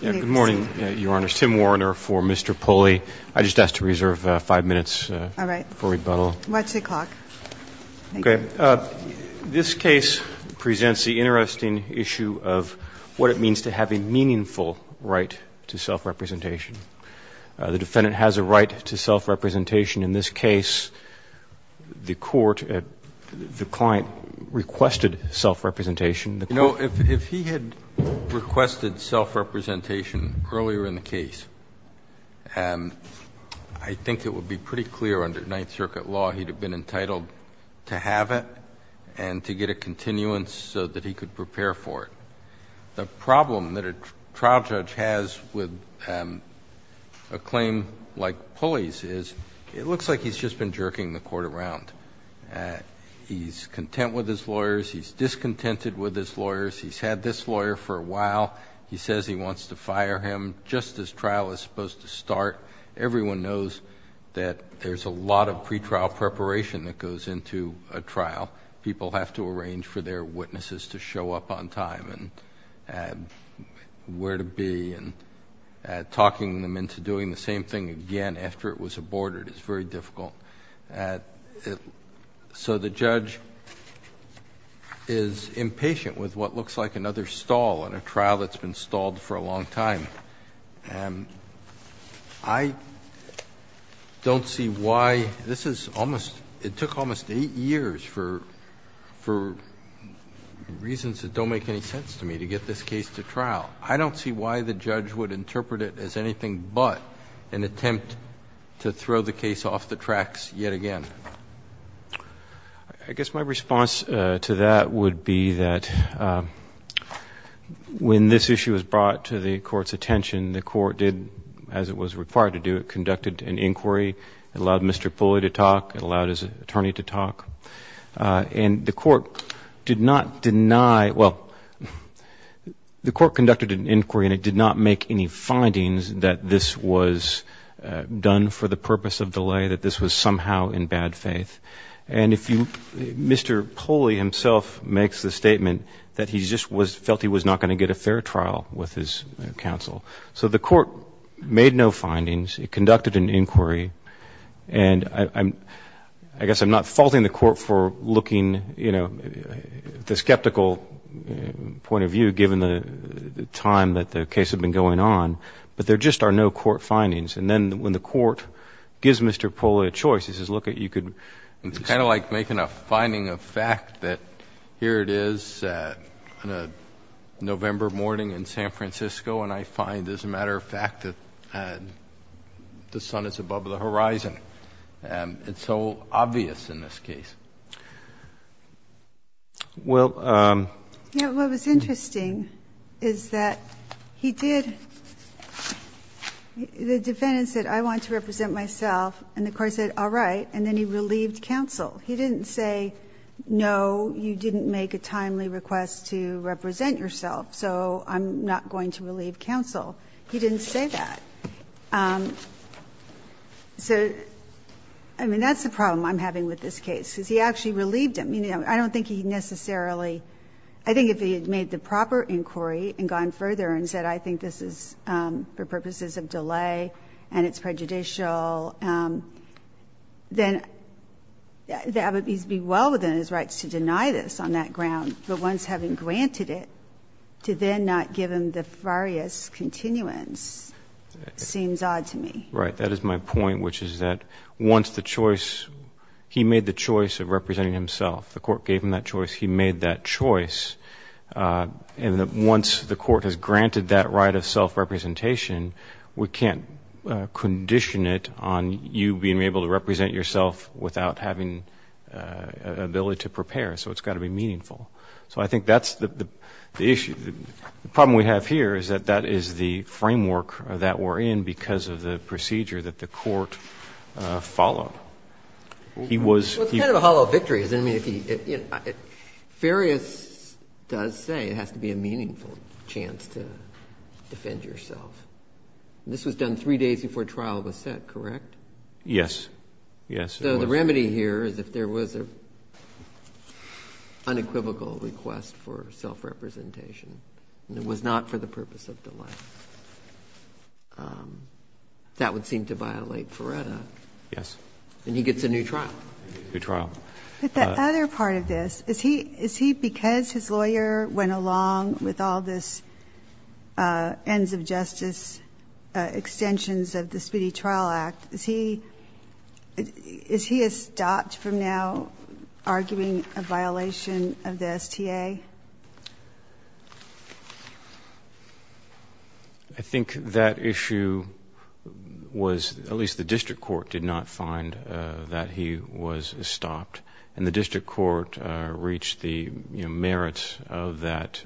Good morning, Your Honors. Tim Warner for Mr. Pulley. I just ask to reserve five minutes before rebuttal. All right. What's the clock? Okay. This case presents the interesting issue of what it means to have a meaningful right to self-representation. The defendant has a right to self-representation. In this case, the court, the client, requested self-representation. You know, if he had requested self-representation earlier in the case, I think it would be pretty clear under Ninth Circuit law he'd have been entitled to have it and to get a continuance so that he could prepare for it. The problem that a trial judge has with a claim like Pulley's is it looks like he's just been jerking the court around. He's content with his lawyers. He's discontented with his lawyers. He's had this lawyer for a while. He says he wants to fire him just as trial is supposed to start. Everyone knows that there's a lot of pretrial preparation that goes into a trial. People have to arrange for their witnesses to show up on time and where to be. And talking them into doing the same thing again after it was aborted is very difficult. So the judge is impatient with what looks like another stall in a trial that's been stalled for a long time. I don't see why this is almost, it took almost eight years for reasons that don't make any sense to me to get this case to trial. I don't see why the judge would interpret it as anything but an attempt to throw the case off the tracks yet again. I guess my response to that would be that when this issue was brought to the court's attention, the court did as it was required to do, it conducted an inquiry. It allowed Mr. Pulley to talk. It allowed his attorney to talk. And the court did not deny, well, the court conducted an inquiry and it did not make any findings that this was done for the purpose of delay, that this was somehow in bad faith. And if you, Mr. Pulley himself makes the statement that he just felt he was not going to get a fair trial with his counsel. So the court made no findings. It conducted an inquiry. And I guess I'm not faulting the court for looking, you know, the skeptical point of view given the time that the case had been going on. But there just are no court findings. And then when the court gives Mr. Pulley a choice, he says look, you could. It's kind of like making a finding of fact that here it is on a November morning in San Francisco and I find as a matter of fact that the sun is above the horizon. It's so obvious in this case. Well. Yeah. What was interesting is that he did, the defendant said I want to represent myself and the court said all right, and then he relieved counsel. He didn't say no, you didn't make a timely request to represent yourself, so I'm not going to relieve you. I'm not going to relieve counsel. He didn't say that. So, I mean, that's the problem I'm having with this case, because he actually relieved him. I don't think he necessarily, I think if he had made the proper inquiry and gone further and said I think this is for purposes of delay and it's prejudicial, then that would be well within his rights to deny this on that ground. But once having granted it, to then not give him the various continuance seems odd to me. Right. That is my point, which is that once the choice, he made the choice of representing himself. The court gave him that choice. He made that choice. And once the court has granted that right of self-representation, we can't condition it on you being able to represent yourself without having an ability to prepare, so it's got to be meaningful. So I think that's the issue. The problem we have here is that that is the framework that we're in because of the procedure that the court followed. He was here. Well, it's kind of a hollow victory, isn't it? I mean, if he, you know, Ferrius does say it has to be a meaningful chance to defend yourself. This was done three days before trial was set, correct? Yes. Yes, it was. So the remedy here is if there was an unequivocal request for self-representation and it was not for the purpose of delay, that would seem to violate Ferretta. Yes. And he gets a new trial. A new trial. But the other part of this, is he, is he, because his lawyer went along with all of this ends of justice extensions of the Speedy Trial Act, is he, is he a stopped from now arguing a violation of the STA? I think that issue was, at least the district court did not find that he was stopped. And the district court reached the merits of that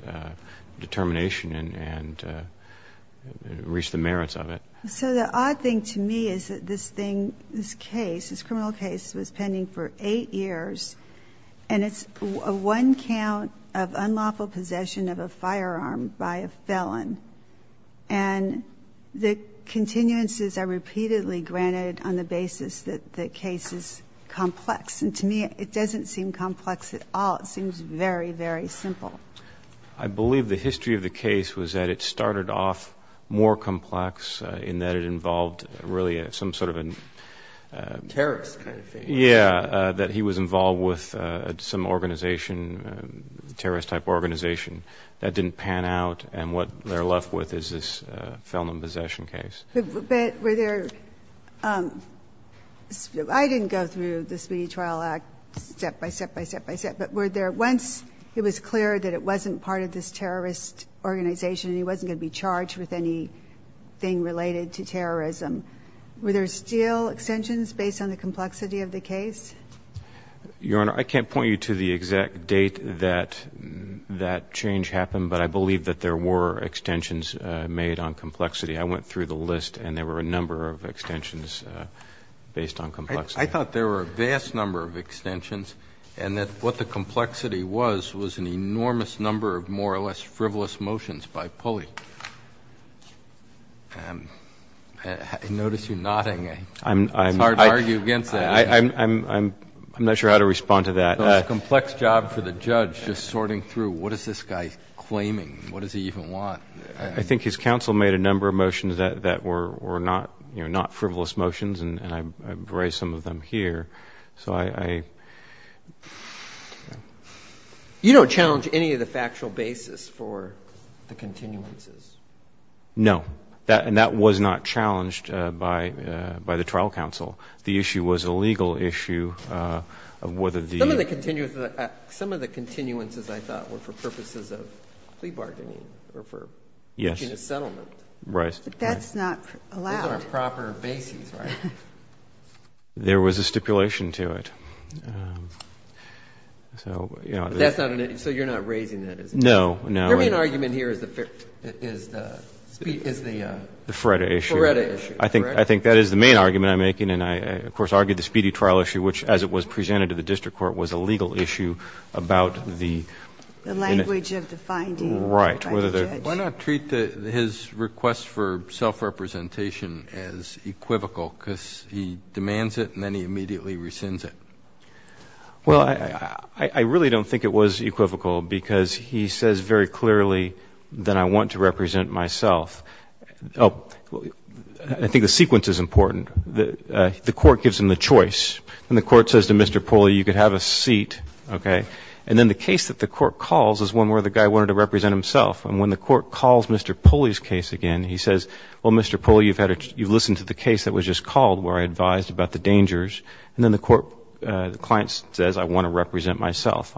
determination and reached the merits of it. So the odd thing to me is that this thing, this case, this criminal case was pending for eight years and it's one count of unlawful possession of a firearm by a felon. And the continuances are repeatedly granted on the basis that the case is complex. And to me, it doesn't seem complex at all. It seems very, very simple. I believe the history of the case was that it started off more complex in that it involved really some sort of a... Terrorist kind of thing. Yeah. That he was involved with some organization, terrorist type organization. That didn't pan out. And what they're left with is this felon in possession case. But were there, I didn't go through the Speedy Trial Act step by step by step by step, but were there, once it was clear that it wasn't part of this terrorist organization and he wasn't going to be charged with anything related to terrorism, were there still extensions based on the complexity of the case? Your Honor, I can't point you to the exact date that that change happened, but I believe that there were extensions made on complexity. I went through the list and there were a number of extensions based on complexity. I thought there were a vast number of extensions and that what the complexity was was an enormous number of more or less frivolous motions by Pulley. I notice you're nodding. It's hard to argue against that. I'm not sure how to respond to that. It's a complex job for the judge just sorting through what is this guy claiming? What does he even want? I think his counsel made a number of motions that were not frivolous motions and I've raised some of them here. You don't challenge any of the factual basis for the continuances? No. And that was not challenged by the trial counsel. The issue was a legal issue of whether the ---- The issue was some of the continuances I thought were for purposes of plea bargaining or for reaching a settlement. Right. But that's not allowed. Those aren't proper bases, right? There was a stipulation to it. So, you know, that's not an issue. So you're not raising that as an issue? No, no. Your main argument here is the ---- The FREDA issue. FREDA issue. I think that is the main argument I'm making and I, of course, argued the speedy court was a legal issue about the ---- The language of the finding. Right. Why not treat his request for self-representation as equivocal because he demands it and then he immediately rescinds it? Well, I really don't think it was equivocal because he says very clearly that I want to represent myself. I think the sequence is important. The court gives him the choice. And the court says to Mr. Pulley, you could have a seat, okay? And then the case that the court calls is one where the guy wanted to represent himself. And when the court calls Mr. Pulley's case again, he says, well, Mr. Pulley, you've had a ---- you've listened to the case that was just called where I advised about the dangers. And then the court ---- the client says, I want to represent myself.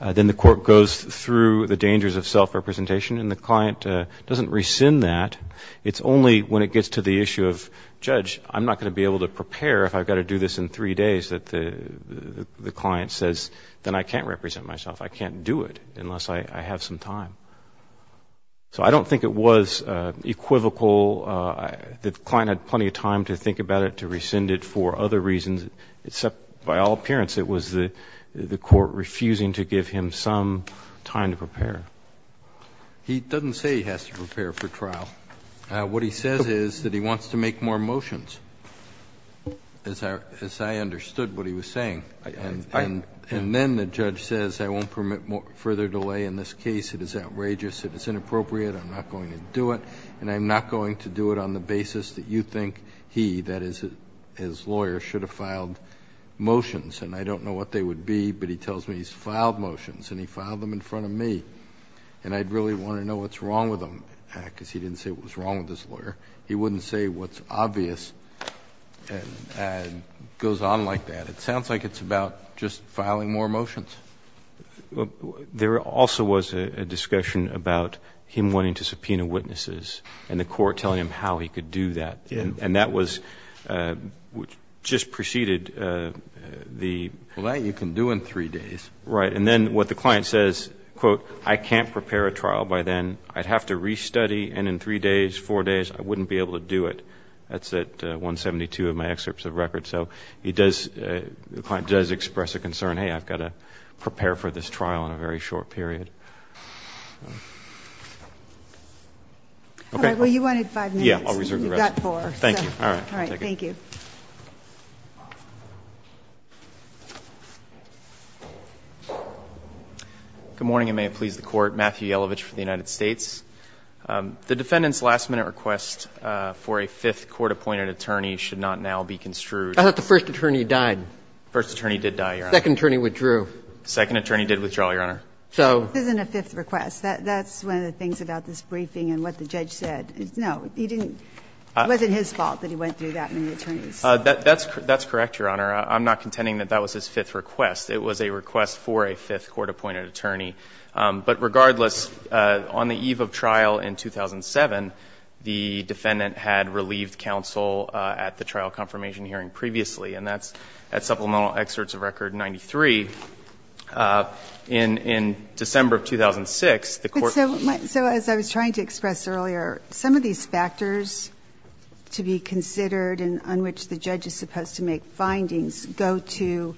Then the court goes through the dangers of self-representation and the client doesn't rescind that. It's only when it gets to the issue of, judge, I'm not going to be able to prepare if I've got to do this in three days that the client says, then I can't represent myself, I can't do it unless I have some time. So I don't think it was equivocal. The client had plenty of time to think about it, to rescind it for other reasons, except by all appearance it was the court refusing to give him some time to prepare. He doesn't say he has to prepare for trial. What he says is that he wants to make more motions. As I understood what he was saying. And then the judge says, I won't permit further delay in this case. It is outrageous. It is inappropriate. I'm not going to do it. And I'm not going to do it on the basis that you think he, that is, his lawyer, should have filed motions. And I don't know what they would be, but he tells me he's filed motions. And he filed them in front of me. And I'd really want to know what's wrong with them. Because he didn't say what was wrong with his lawyer. He wouldn't say what's obvious and goes on like that. It sounds like it's about just filing more motions. There also was a discussion about him wanting to subpoena witnesses and the court telling him how he could do that. And that was just preceded the. Well, that you can do in three days. Right. And then what the client says, quote, I can't prepare a trial by then. I'd have to restudy. And in three days, four days, I wouldn't be able to do it. That's at 172 of my excerpts of record. So he does, the client does express a concern. Hey, I've got to prepare for this trial in a very short period. Okay. All right. Well, you wanted five minutes. Yeah, I'll reserve the rest. You've got four. Thank you. All right. Thank you. Good morning, and may it please the Court. I'm Matthew Yelovich from the United States. The defendant's last-minute request for a fifth court-appointed attorney should not now be construed. I thought the first attorney died. The first attorney did die, Your Honor. The second attorney withdrew. The second attorney did withdraw, Your Honor. So. This isn't a fifth request. That's one of the things about this briefing and what the judge said. No, he didn't. It wasn't his fault that he went through that many attorneys. That's correct, Your Honor. I'm not contending that that was his fifth request. It was a request for a fifth court-appointed attorney. But regardless, on the eve of trial in 2007, the defendant had relieved counsel at the trial confirmation hearing previously, and that's at Supplemental Excerpts of Record 93. In December of 2006, the Court. So as I was trying to express earlier, some of these factors to be considered on which the judge is supposed to make findings go to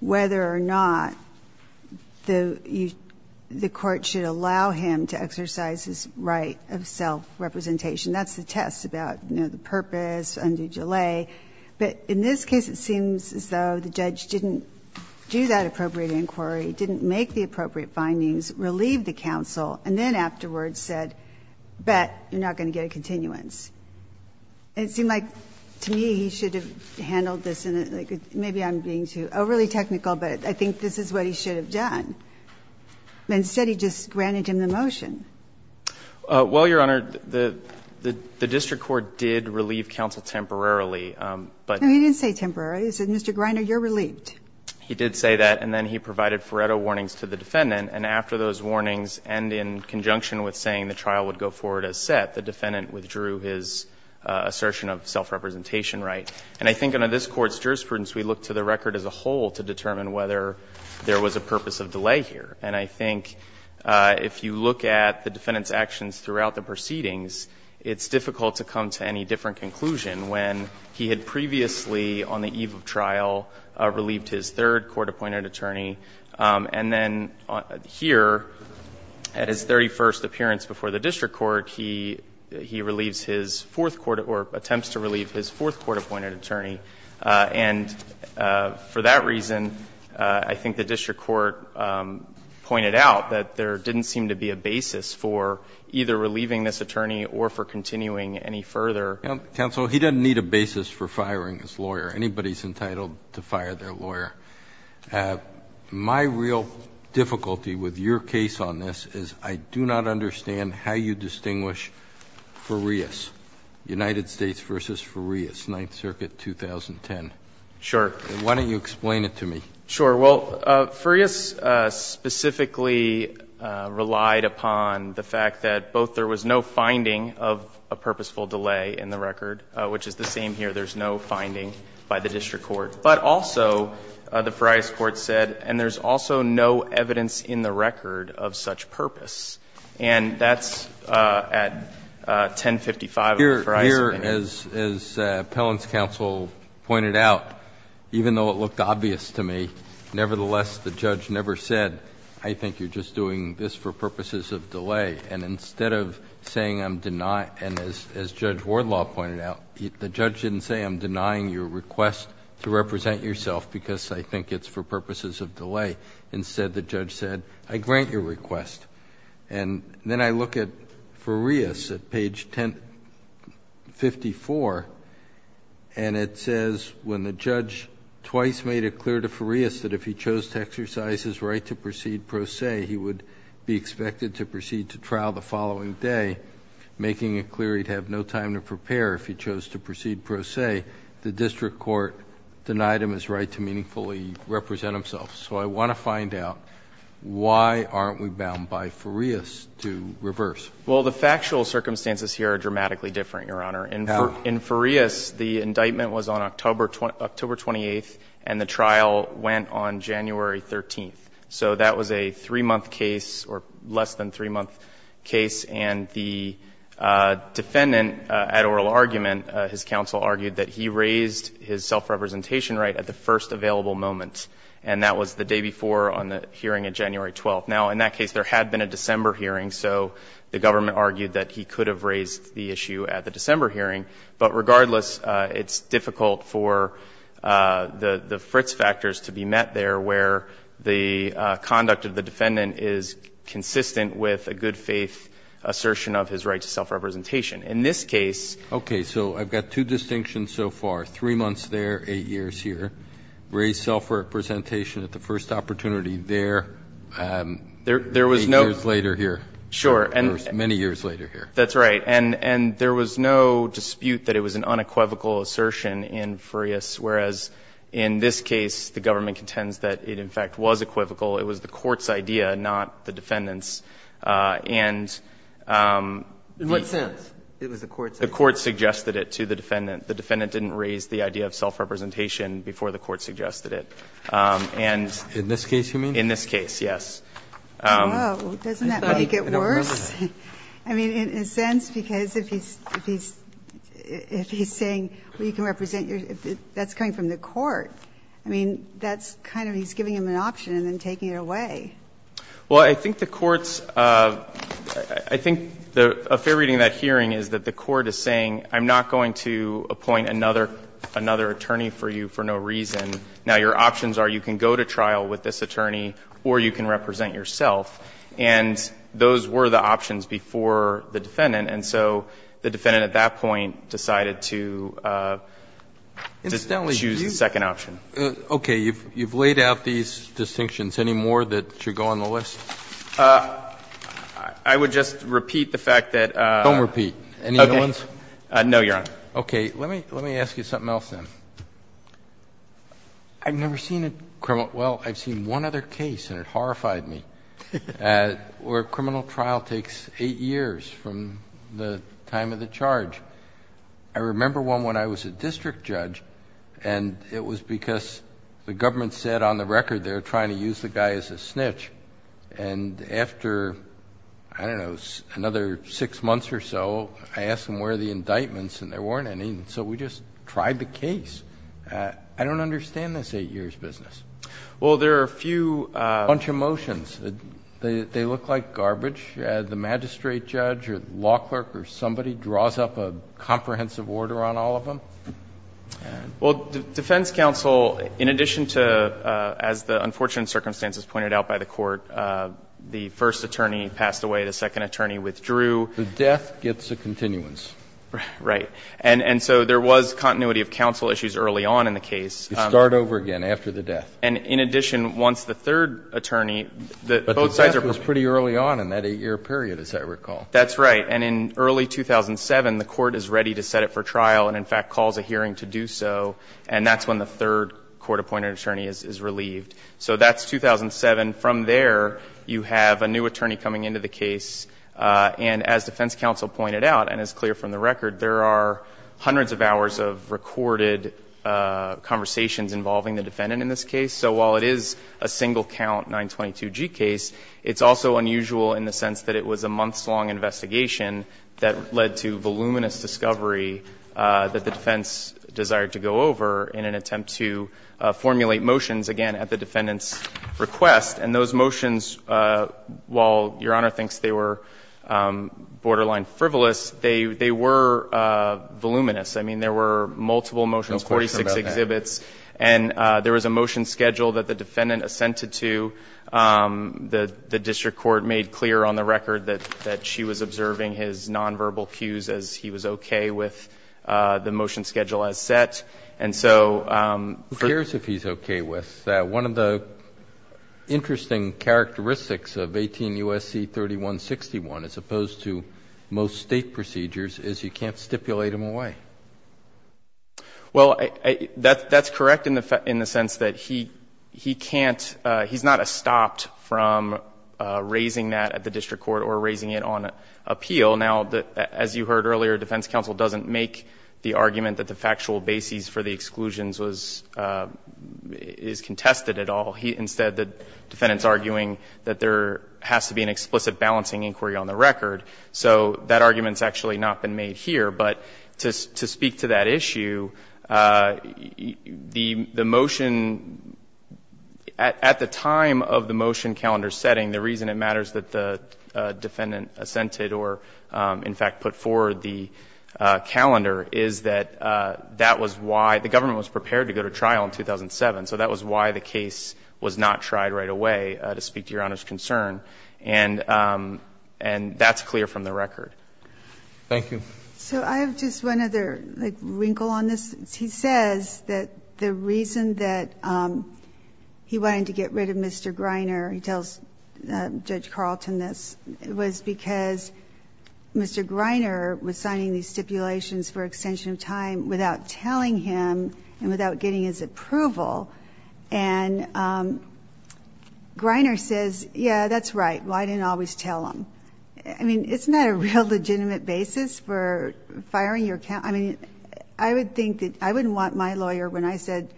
whether or not the court should allow him to exercise his right of self-representation. That's the test about, you know, the purpose, undue delay. But in this case, it seems as though the judge didn't do that appropriate inquiry, didn't make the appropriate findings, relieved the counsel, and then afterwards said, but you're not going to get a continuance. And it seemed like, to me, he should have handled this in a, like, maybe I'm being too overly technical, but I think this is what he should have done. Instead, he just granted him the motion. Well, Your Honor, the district court did relieve counsel temporarily, but. No, he didn't say temporarily. He said, Mr. Greiner, you're relieved. He did say that, and then he provided Faretto warnings to the defendant. And after those warnings, and in conjunction with saying the trial would go forward as set, the defendant withdrew his assertion of self-representation right. And I think under this Court's jurisprudence, we look to the record as a whole to determine whether there was a purpose of delay here. And I think if you look at the defendant's actions throughout the proceedings, it's difficult to come to any different conclusion when he had previously, on the eve of trial, relieved his third court-appointed attorney. And then here, at his 31st appearance before the district court, he relieves his fourth court or attempts to relieve his fourth court-appointed attorney. And for that reason, I think the district court pointed out that there didn't seem to be a basis for either relieving this attorney or for continuing any further. Counsel, he doesn't need a basis for firing his lawyer. Anybody is entitled to fire their lawyer. My real difficulty with your case on this is I do not understand how you distinguish Farias, United States v. Farias, Ninth Circuit, 2010. Sure. Why don't you explain it to me? Sure. Well, Farias specifically relied upon the fact that both there was no finding of a purposeful delay in the record, which is the same here. There's no finding by the district court. But also, the Farias court said, and there's also no evidence in the record of such purpose. And that's at 1055 of the Farias opinion. Here, as appellant's counsel pointed out, even though it looked obvious to me, nevertheless, the judge never said, I think you're just doing this for purposes of delay. And instead of saying I'm denying, and as Judge Wardlaw pointed out, the judge didn't say I'm denying your request to represent yourself because I think it's for purposes of delay. Instead, the judge said, I grant your request. And then I look at Farias at page 1054, and it says, when the judge twice made it clear to Farias that if he chose to exercise his right to proceed pro se, he would be expected to proceed to trial the following day, making it clear he'd have no time to prepare if he chose to proceed pro se. The district court denied him his right to meaningfully represent himself. So I want to find out, why aren't we bound by Farias to reverse? Well, the factual circumstances here are dramatically different, Your Honor. How? In Farias, the indictment was on October 28th, and the trial went on January 13th. So that was a three-month case, or less than three-month case. And the defendant, at oral argument, his counsel argued that he raised his self-representation right at the first available moment, and that was the day before on the hearing on January 12th. Now, in that case, there had been a December hearing, so the government argued that he could have raised the issue at the December hearing. But regardless, it's difficult for the Fritz factors to be met there, where the conduct of the defendant is consistent with a good-faith assertion of his right to self-representation. In this case ---- Okay. So I've got two distinctions so far. Three months there, eight years here. Raised self-representation at the first opportunity there. There was no ---- Eight years later here. Sure. Many years later here. That's right. And there was no dispute that it was an unequivocal assertion in Farias, whereas in this case the government contends that it in fact was equivocal. It was the court's idea, not the defendant's. And the ---- In what sense? It was the court's idea. The court suggested it to the defendant. The defendant didn't raise the idea of self-representation before the court suggested it. And ---- In this case, you mean? In this case, yes. Doesn't that make it worse? I mean, in a sense, because if he's saying, well, you can represent your ---- that's coming from the court. I mean, that's kind of he's giving him an option and then taking it away. Well, I think the court's ---- I think a fair reading of that hearing is that the court is saying, I'm not going to appoint another attorney for you for no reason. Now, your options are you can go to trial with this attorney or you can represent yourself. And those were the options before the defendant. And so the defendant at that point decided to choose the second option. Okay. You've laid out these distinctions. Any more that should go on the list? I would just repeat the fact that ---- Don't repeat. Any other ones? No, Your Honor. Okay. Let me ask you something else then. I've never seen a criminal ---- well, I've seen one other case and it horrified me where a criminal trial takes eight years from the time of the charge. I remember one when I was a district judge and it was because the government said on the record they were trying to use the guy as a snitch. And after, I don't know, another six months or so, I asked them where are the indictments and there weren't any. And so we just tried the case. I don't understand this eight years business. Well, there are a few ---- A bunch of motions. They look like garbage. The magistrate judge or law clerk or somebody draws up a comprehensive order on all of them. Well, defense counsel, in addition to, as the unfortunate circumstances pointed out by the Court, the first attorney passed away, the second attorney withdrew. The death gets a continuance. Right. And so there was continuity of counsel issues early on in the case. You start over again after the death. And in addition, once the third attorney, both sides are ---- But the death was pretty early on in that eight-year period, as I recall. That's right. And in early 2007, the Court is ready to set it for trial and, in fact, calls a hearing to do so. And that's when the third court-appointed attorney is relieved. So that's 2007. From there, you have a new attorney coming into the case. And as defense counsel pointed out, and it's clear from the record, there are involving the defendant in this case. So while it is a single-count 922G case, it's also unusual in the sense that it was a months-long investigation that led to voluminous discovery that the defense desired to go over in an attempt to formulate motions, again, at the defendant's request. And those motions, while Your Honor thinks they were borderline frivolous, they were voluminous. I mean, there were multiple motions, 46 exhibits. And there was a motion schedule that the defendant assented to. The district court made clear on the record that she was observing his nonverbal cues as he was okay with the motion schedule as set. And so for the ---- Who cares if he's okay with that? One of the interesting characteristics of 18 U.S.C. 3161, as opposed to most State procedures, is you can't stipulate them away. Well, that's correct in the sense that he can't ---- he's not stopped from raising that at the district court or raising it on appeal. Now, as you heard earlier, defense counsel doesn't make the argument that the factual basis for the exclusions was ---- is contested at all. Instead, the defendant's arguing that there has to be an explicit balancing inquiry on the record. So that argument's actually not been made here. But to speak to that issue, the motion ---- at the time of the motion calendar setting, the reason it matters that the defendant assented or, in fact, put forward the calendar is that that was why the government was prepared to go to trial in 2007. So that was why the case was not tried right away, to speak to Your Honor's concern. And that's clear from the record. Thank you. So I have just one other, like, wrinkle on this. He says that the reason that he wanted to get rid of Mr. Greiner, he tells Judge Carlton this, was because Mr. Greiner was signing these stipulations for extension of time without telling him and without getting his approval. And Greiner says, yeah, that's right, why didn't I always tell him? I mean, isn't that a real legitimate basis for firing your counsel? I mean, I would think that ---- I wouldn't want my lawyer, when I said,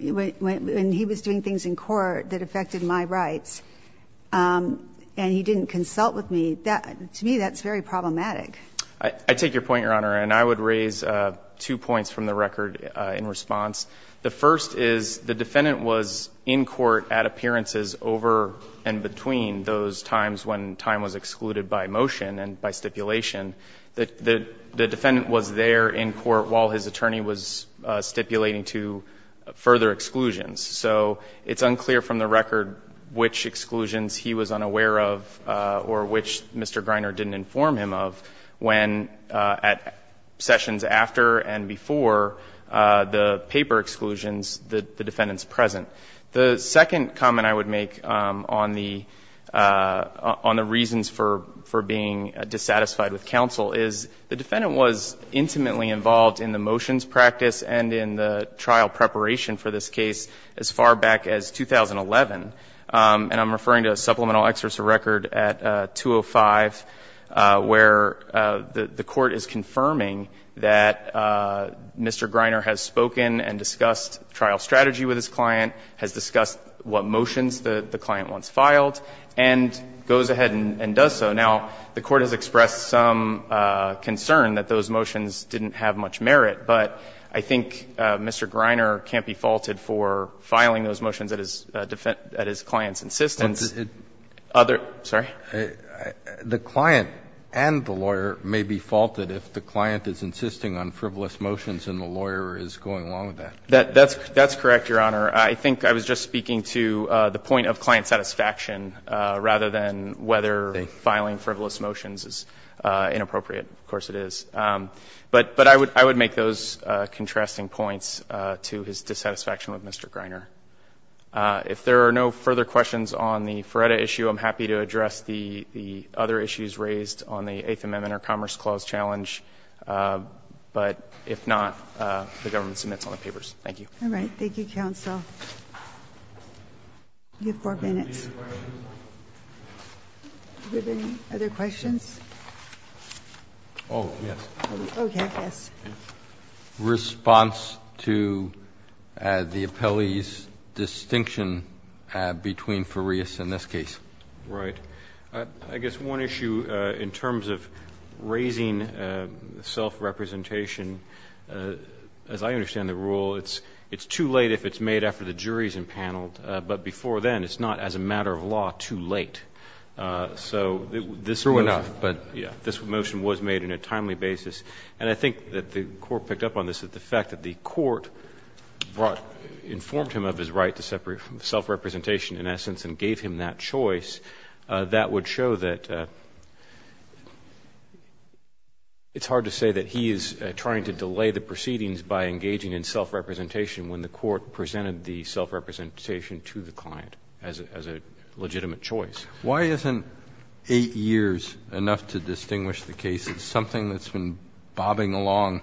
when he was doing things in court that affected my rights, and he didn't consult with me. To me, that's very problematic. I take your point, Your Honor. And I would raise two points from the record in response. The first is the defendant was in court at appearances over and between those times when time was excluded by motion and by stipulation. The defendant was there in court while his attorney was stipulating to further exclusions. So it's unclear from the record which exclusions he was unaware of or which Mr. Greiner didn't inform him of when, at sessions after and before the paper exclusions, the defendant's present. The second comment I would make on the reasons for being dissatisfied with counsel is the defendant was intimately involved in the motions practice and in the trial preparation for this case as far back as 2011. And I'm referring to Supplemental Excerpts of Record at 205, where the Court is confirming that Mr. Greiner has spoken and discussed trial strategy with his client, has discussed what motions the client once filed, and goes ahead and does so. Now, the Court has expressed some concern that those motions didn't have much merit. But I think Mr. Greiner can't be faulted for filing those motions at his client's insistence. The client and the lawyer may be faulted if the client is insisting on frivolous motions and the lawyer is going along with that. That's correct, Your Honor. I think I was just speaking to the point of client satisfaction rather than whether filing frivolous motions is inappropriate. Of course it is. But I would make those contrasting points to his dissatisfaction with Mr. Greiner. If there are no further questions on the FREDA issue, I'm happy to address the other issues raised on the Eighth Amendment or Commerce Clause challenge. But if not, the government submits on the papers. Thank you. All right. Thank you, counsel. You have four minutes. Do you have any other questions? Oh, yes. Okay, yes. I have a question in response to the appellee's distinction between Farias and this case. Right. I guess one issue in terms of raising self-representation, as I understand the rule, it's too late if it's made after the jury is impaneled. But before then, it's not, as a matter of law, too late. So this motion was made in a timely basis. And I think that the Court picked up on this, that the fact that the Court brought or informed him of his right to separate from self-representation in essence and gave him that choice, that would show that it's hard to say that he is trying to delay the proceedings by engaging in self-representation when the Court presented the self-representation to the client as a legitimate choice. Why isn't eight years enough to distinguish the cases? Something that's been bobbing along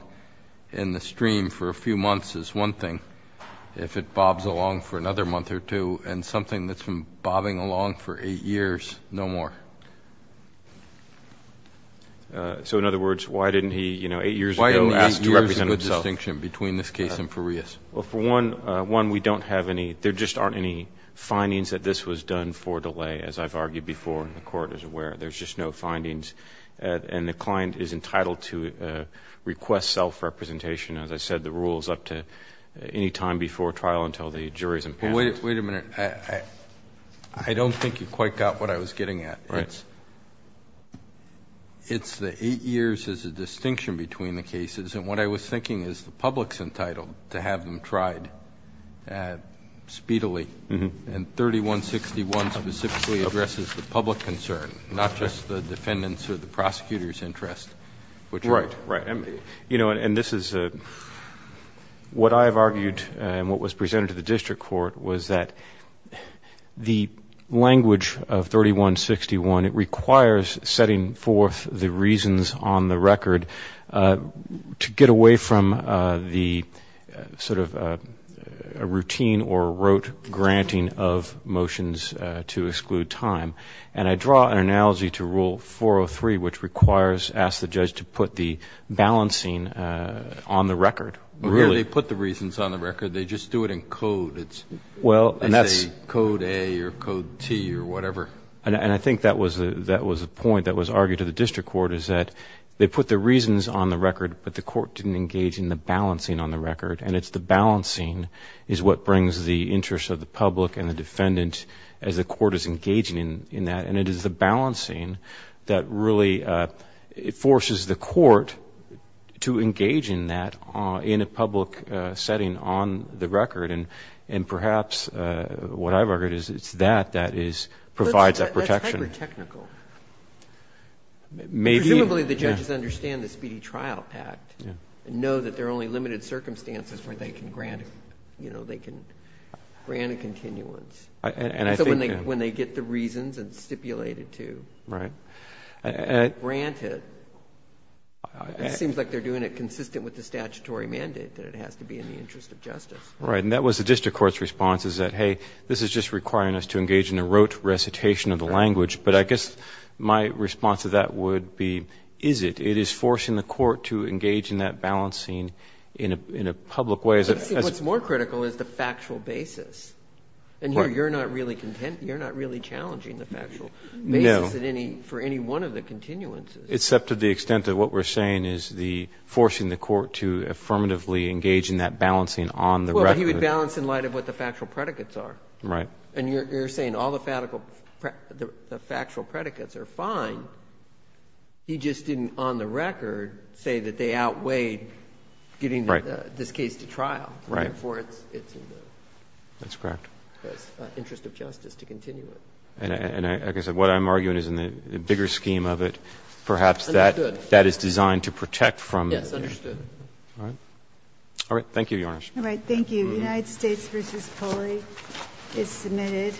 in the stream for a few months is one thing. If it bobs along for another month or two, and something that's been bobbing along for eight years, no more. So in other words, why didn't he, you know, eight years ago ask to represent himself? Why isn't eight years a good distinction between this case and Farias? Well, for one, we don't have any. There just aren't any findings that this was done for delay, as I've argued before, and the Court is aware. There's just no findings. And the client is entitled to request self-representation. As I said, the rule is up to any time before trial until the jury is impassioned. Wait a minute. I don't think you quite got what I was getting at. Right. It's the eight years is a distinction between the cases. And what I was thinking is the public's entitled to have them tried speedily, and 3161 specifically addresses the public concern, not just the defendant's or the prosecutor's interest. Right, right. You know, and this is what I have argued and what was presented to the district court was that the language of 3161, it requires setting forth the reasons on the record to get away from the sort of a routine or rote granting of motions to exclude time. And I draw an analogy to Rule 403, which requires, ask the judge to put the balancing on the record. Really. They put the reasons on the record. They just do it in code. It's code A or code T or whatever. And I think that was a point that was argued to the district court, is that they put the reasons on the record, but the court didn't engage in the balancing on the record. And it's the balancing is what brings the interest of the public and the defendant as the court is engaging in that. And it is the balancing that really forces the court to engage in that in a public setting on the record. And perhaps what I've argued is it's that that provides that protection. That's hyper-technical. Presumably the judges understand the Speedy Trial Act and know that there are only limited circumstances where they can grant a continuance. So when they get the reasons and stipulate it to grant it, it seems like they're doing it consistent with the statutory mandate that it has to be in the interest of justice. Right. And that was the district court's response, is that, hey, this is just requiring us to engage in a rote recitation of the language. But I guess my response to that would be, is it? It is forcing the court to engage in that balancing in a public way. What's more critical is the factual basis. And here you're not really challenging the factual basis for any one of the continuances. Except to the extent that what we're saying is forcing the court to affirmatively engage in that balancing on the record. Well, but he would balance in light of what the factual predicates are. Right. And you're saying all the factual predicates are fine. He just didn't on the record say that they outweighed getting this case to trial. Right. Before it's in the interest of justice to continue it. And like I said, what I'm arguing is in the bigger scheme of it, perhaps that is designed to protect from. Yes, understood. All right. All right. Thank you, Your Honor. All right. Thank you. United States v. Coley is submitted.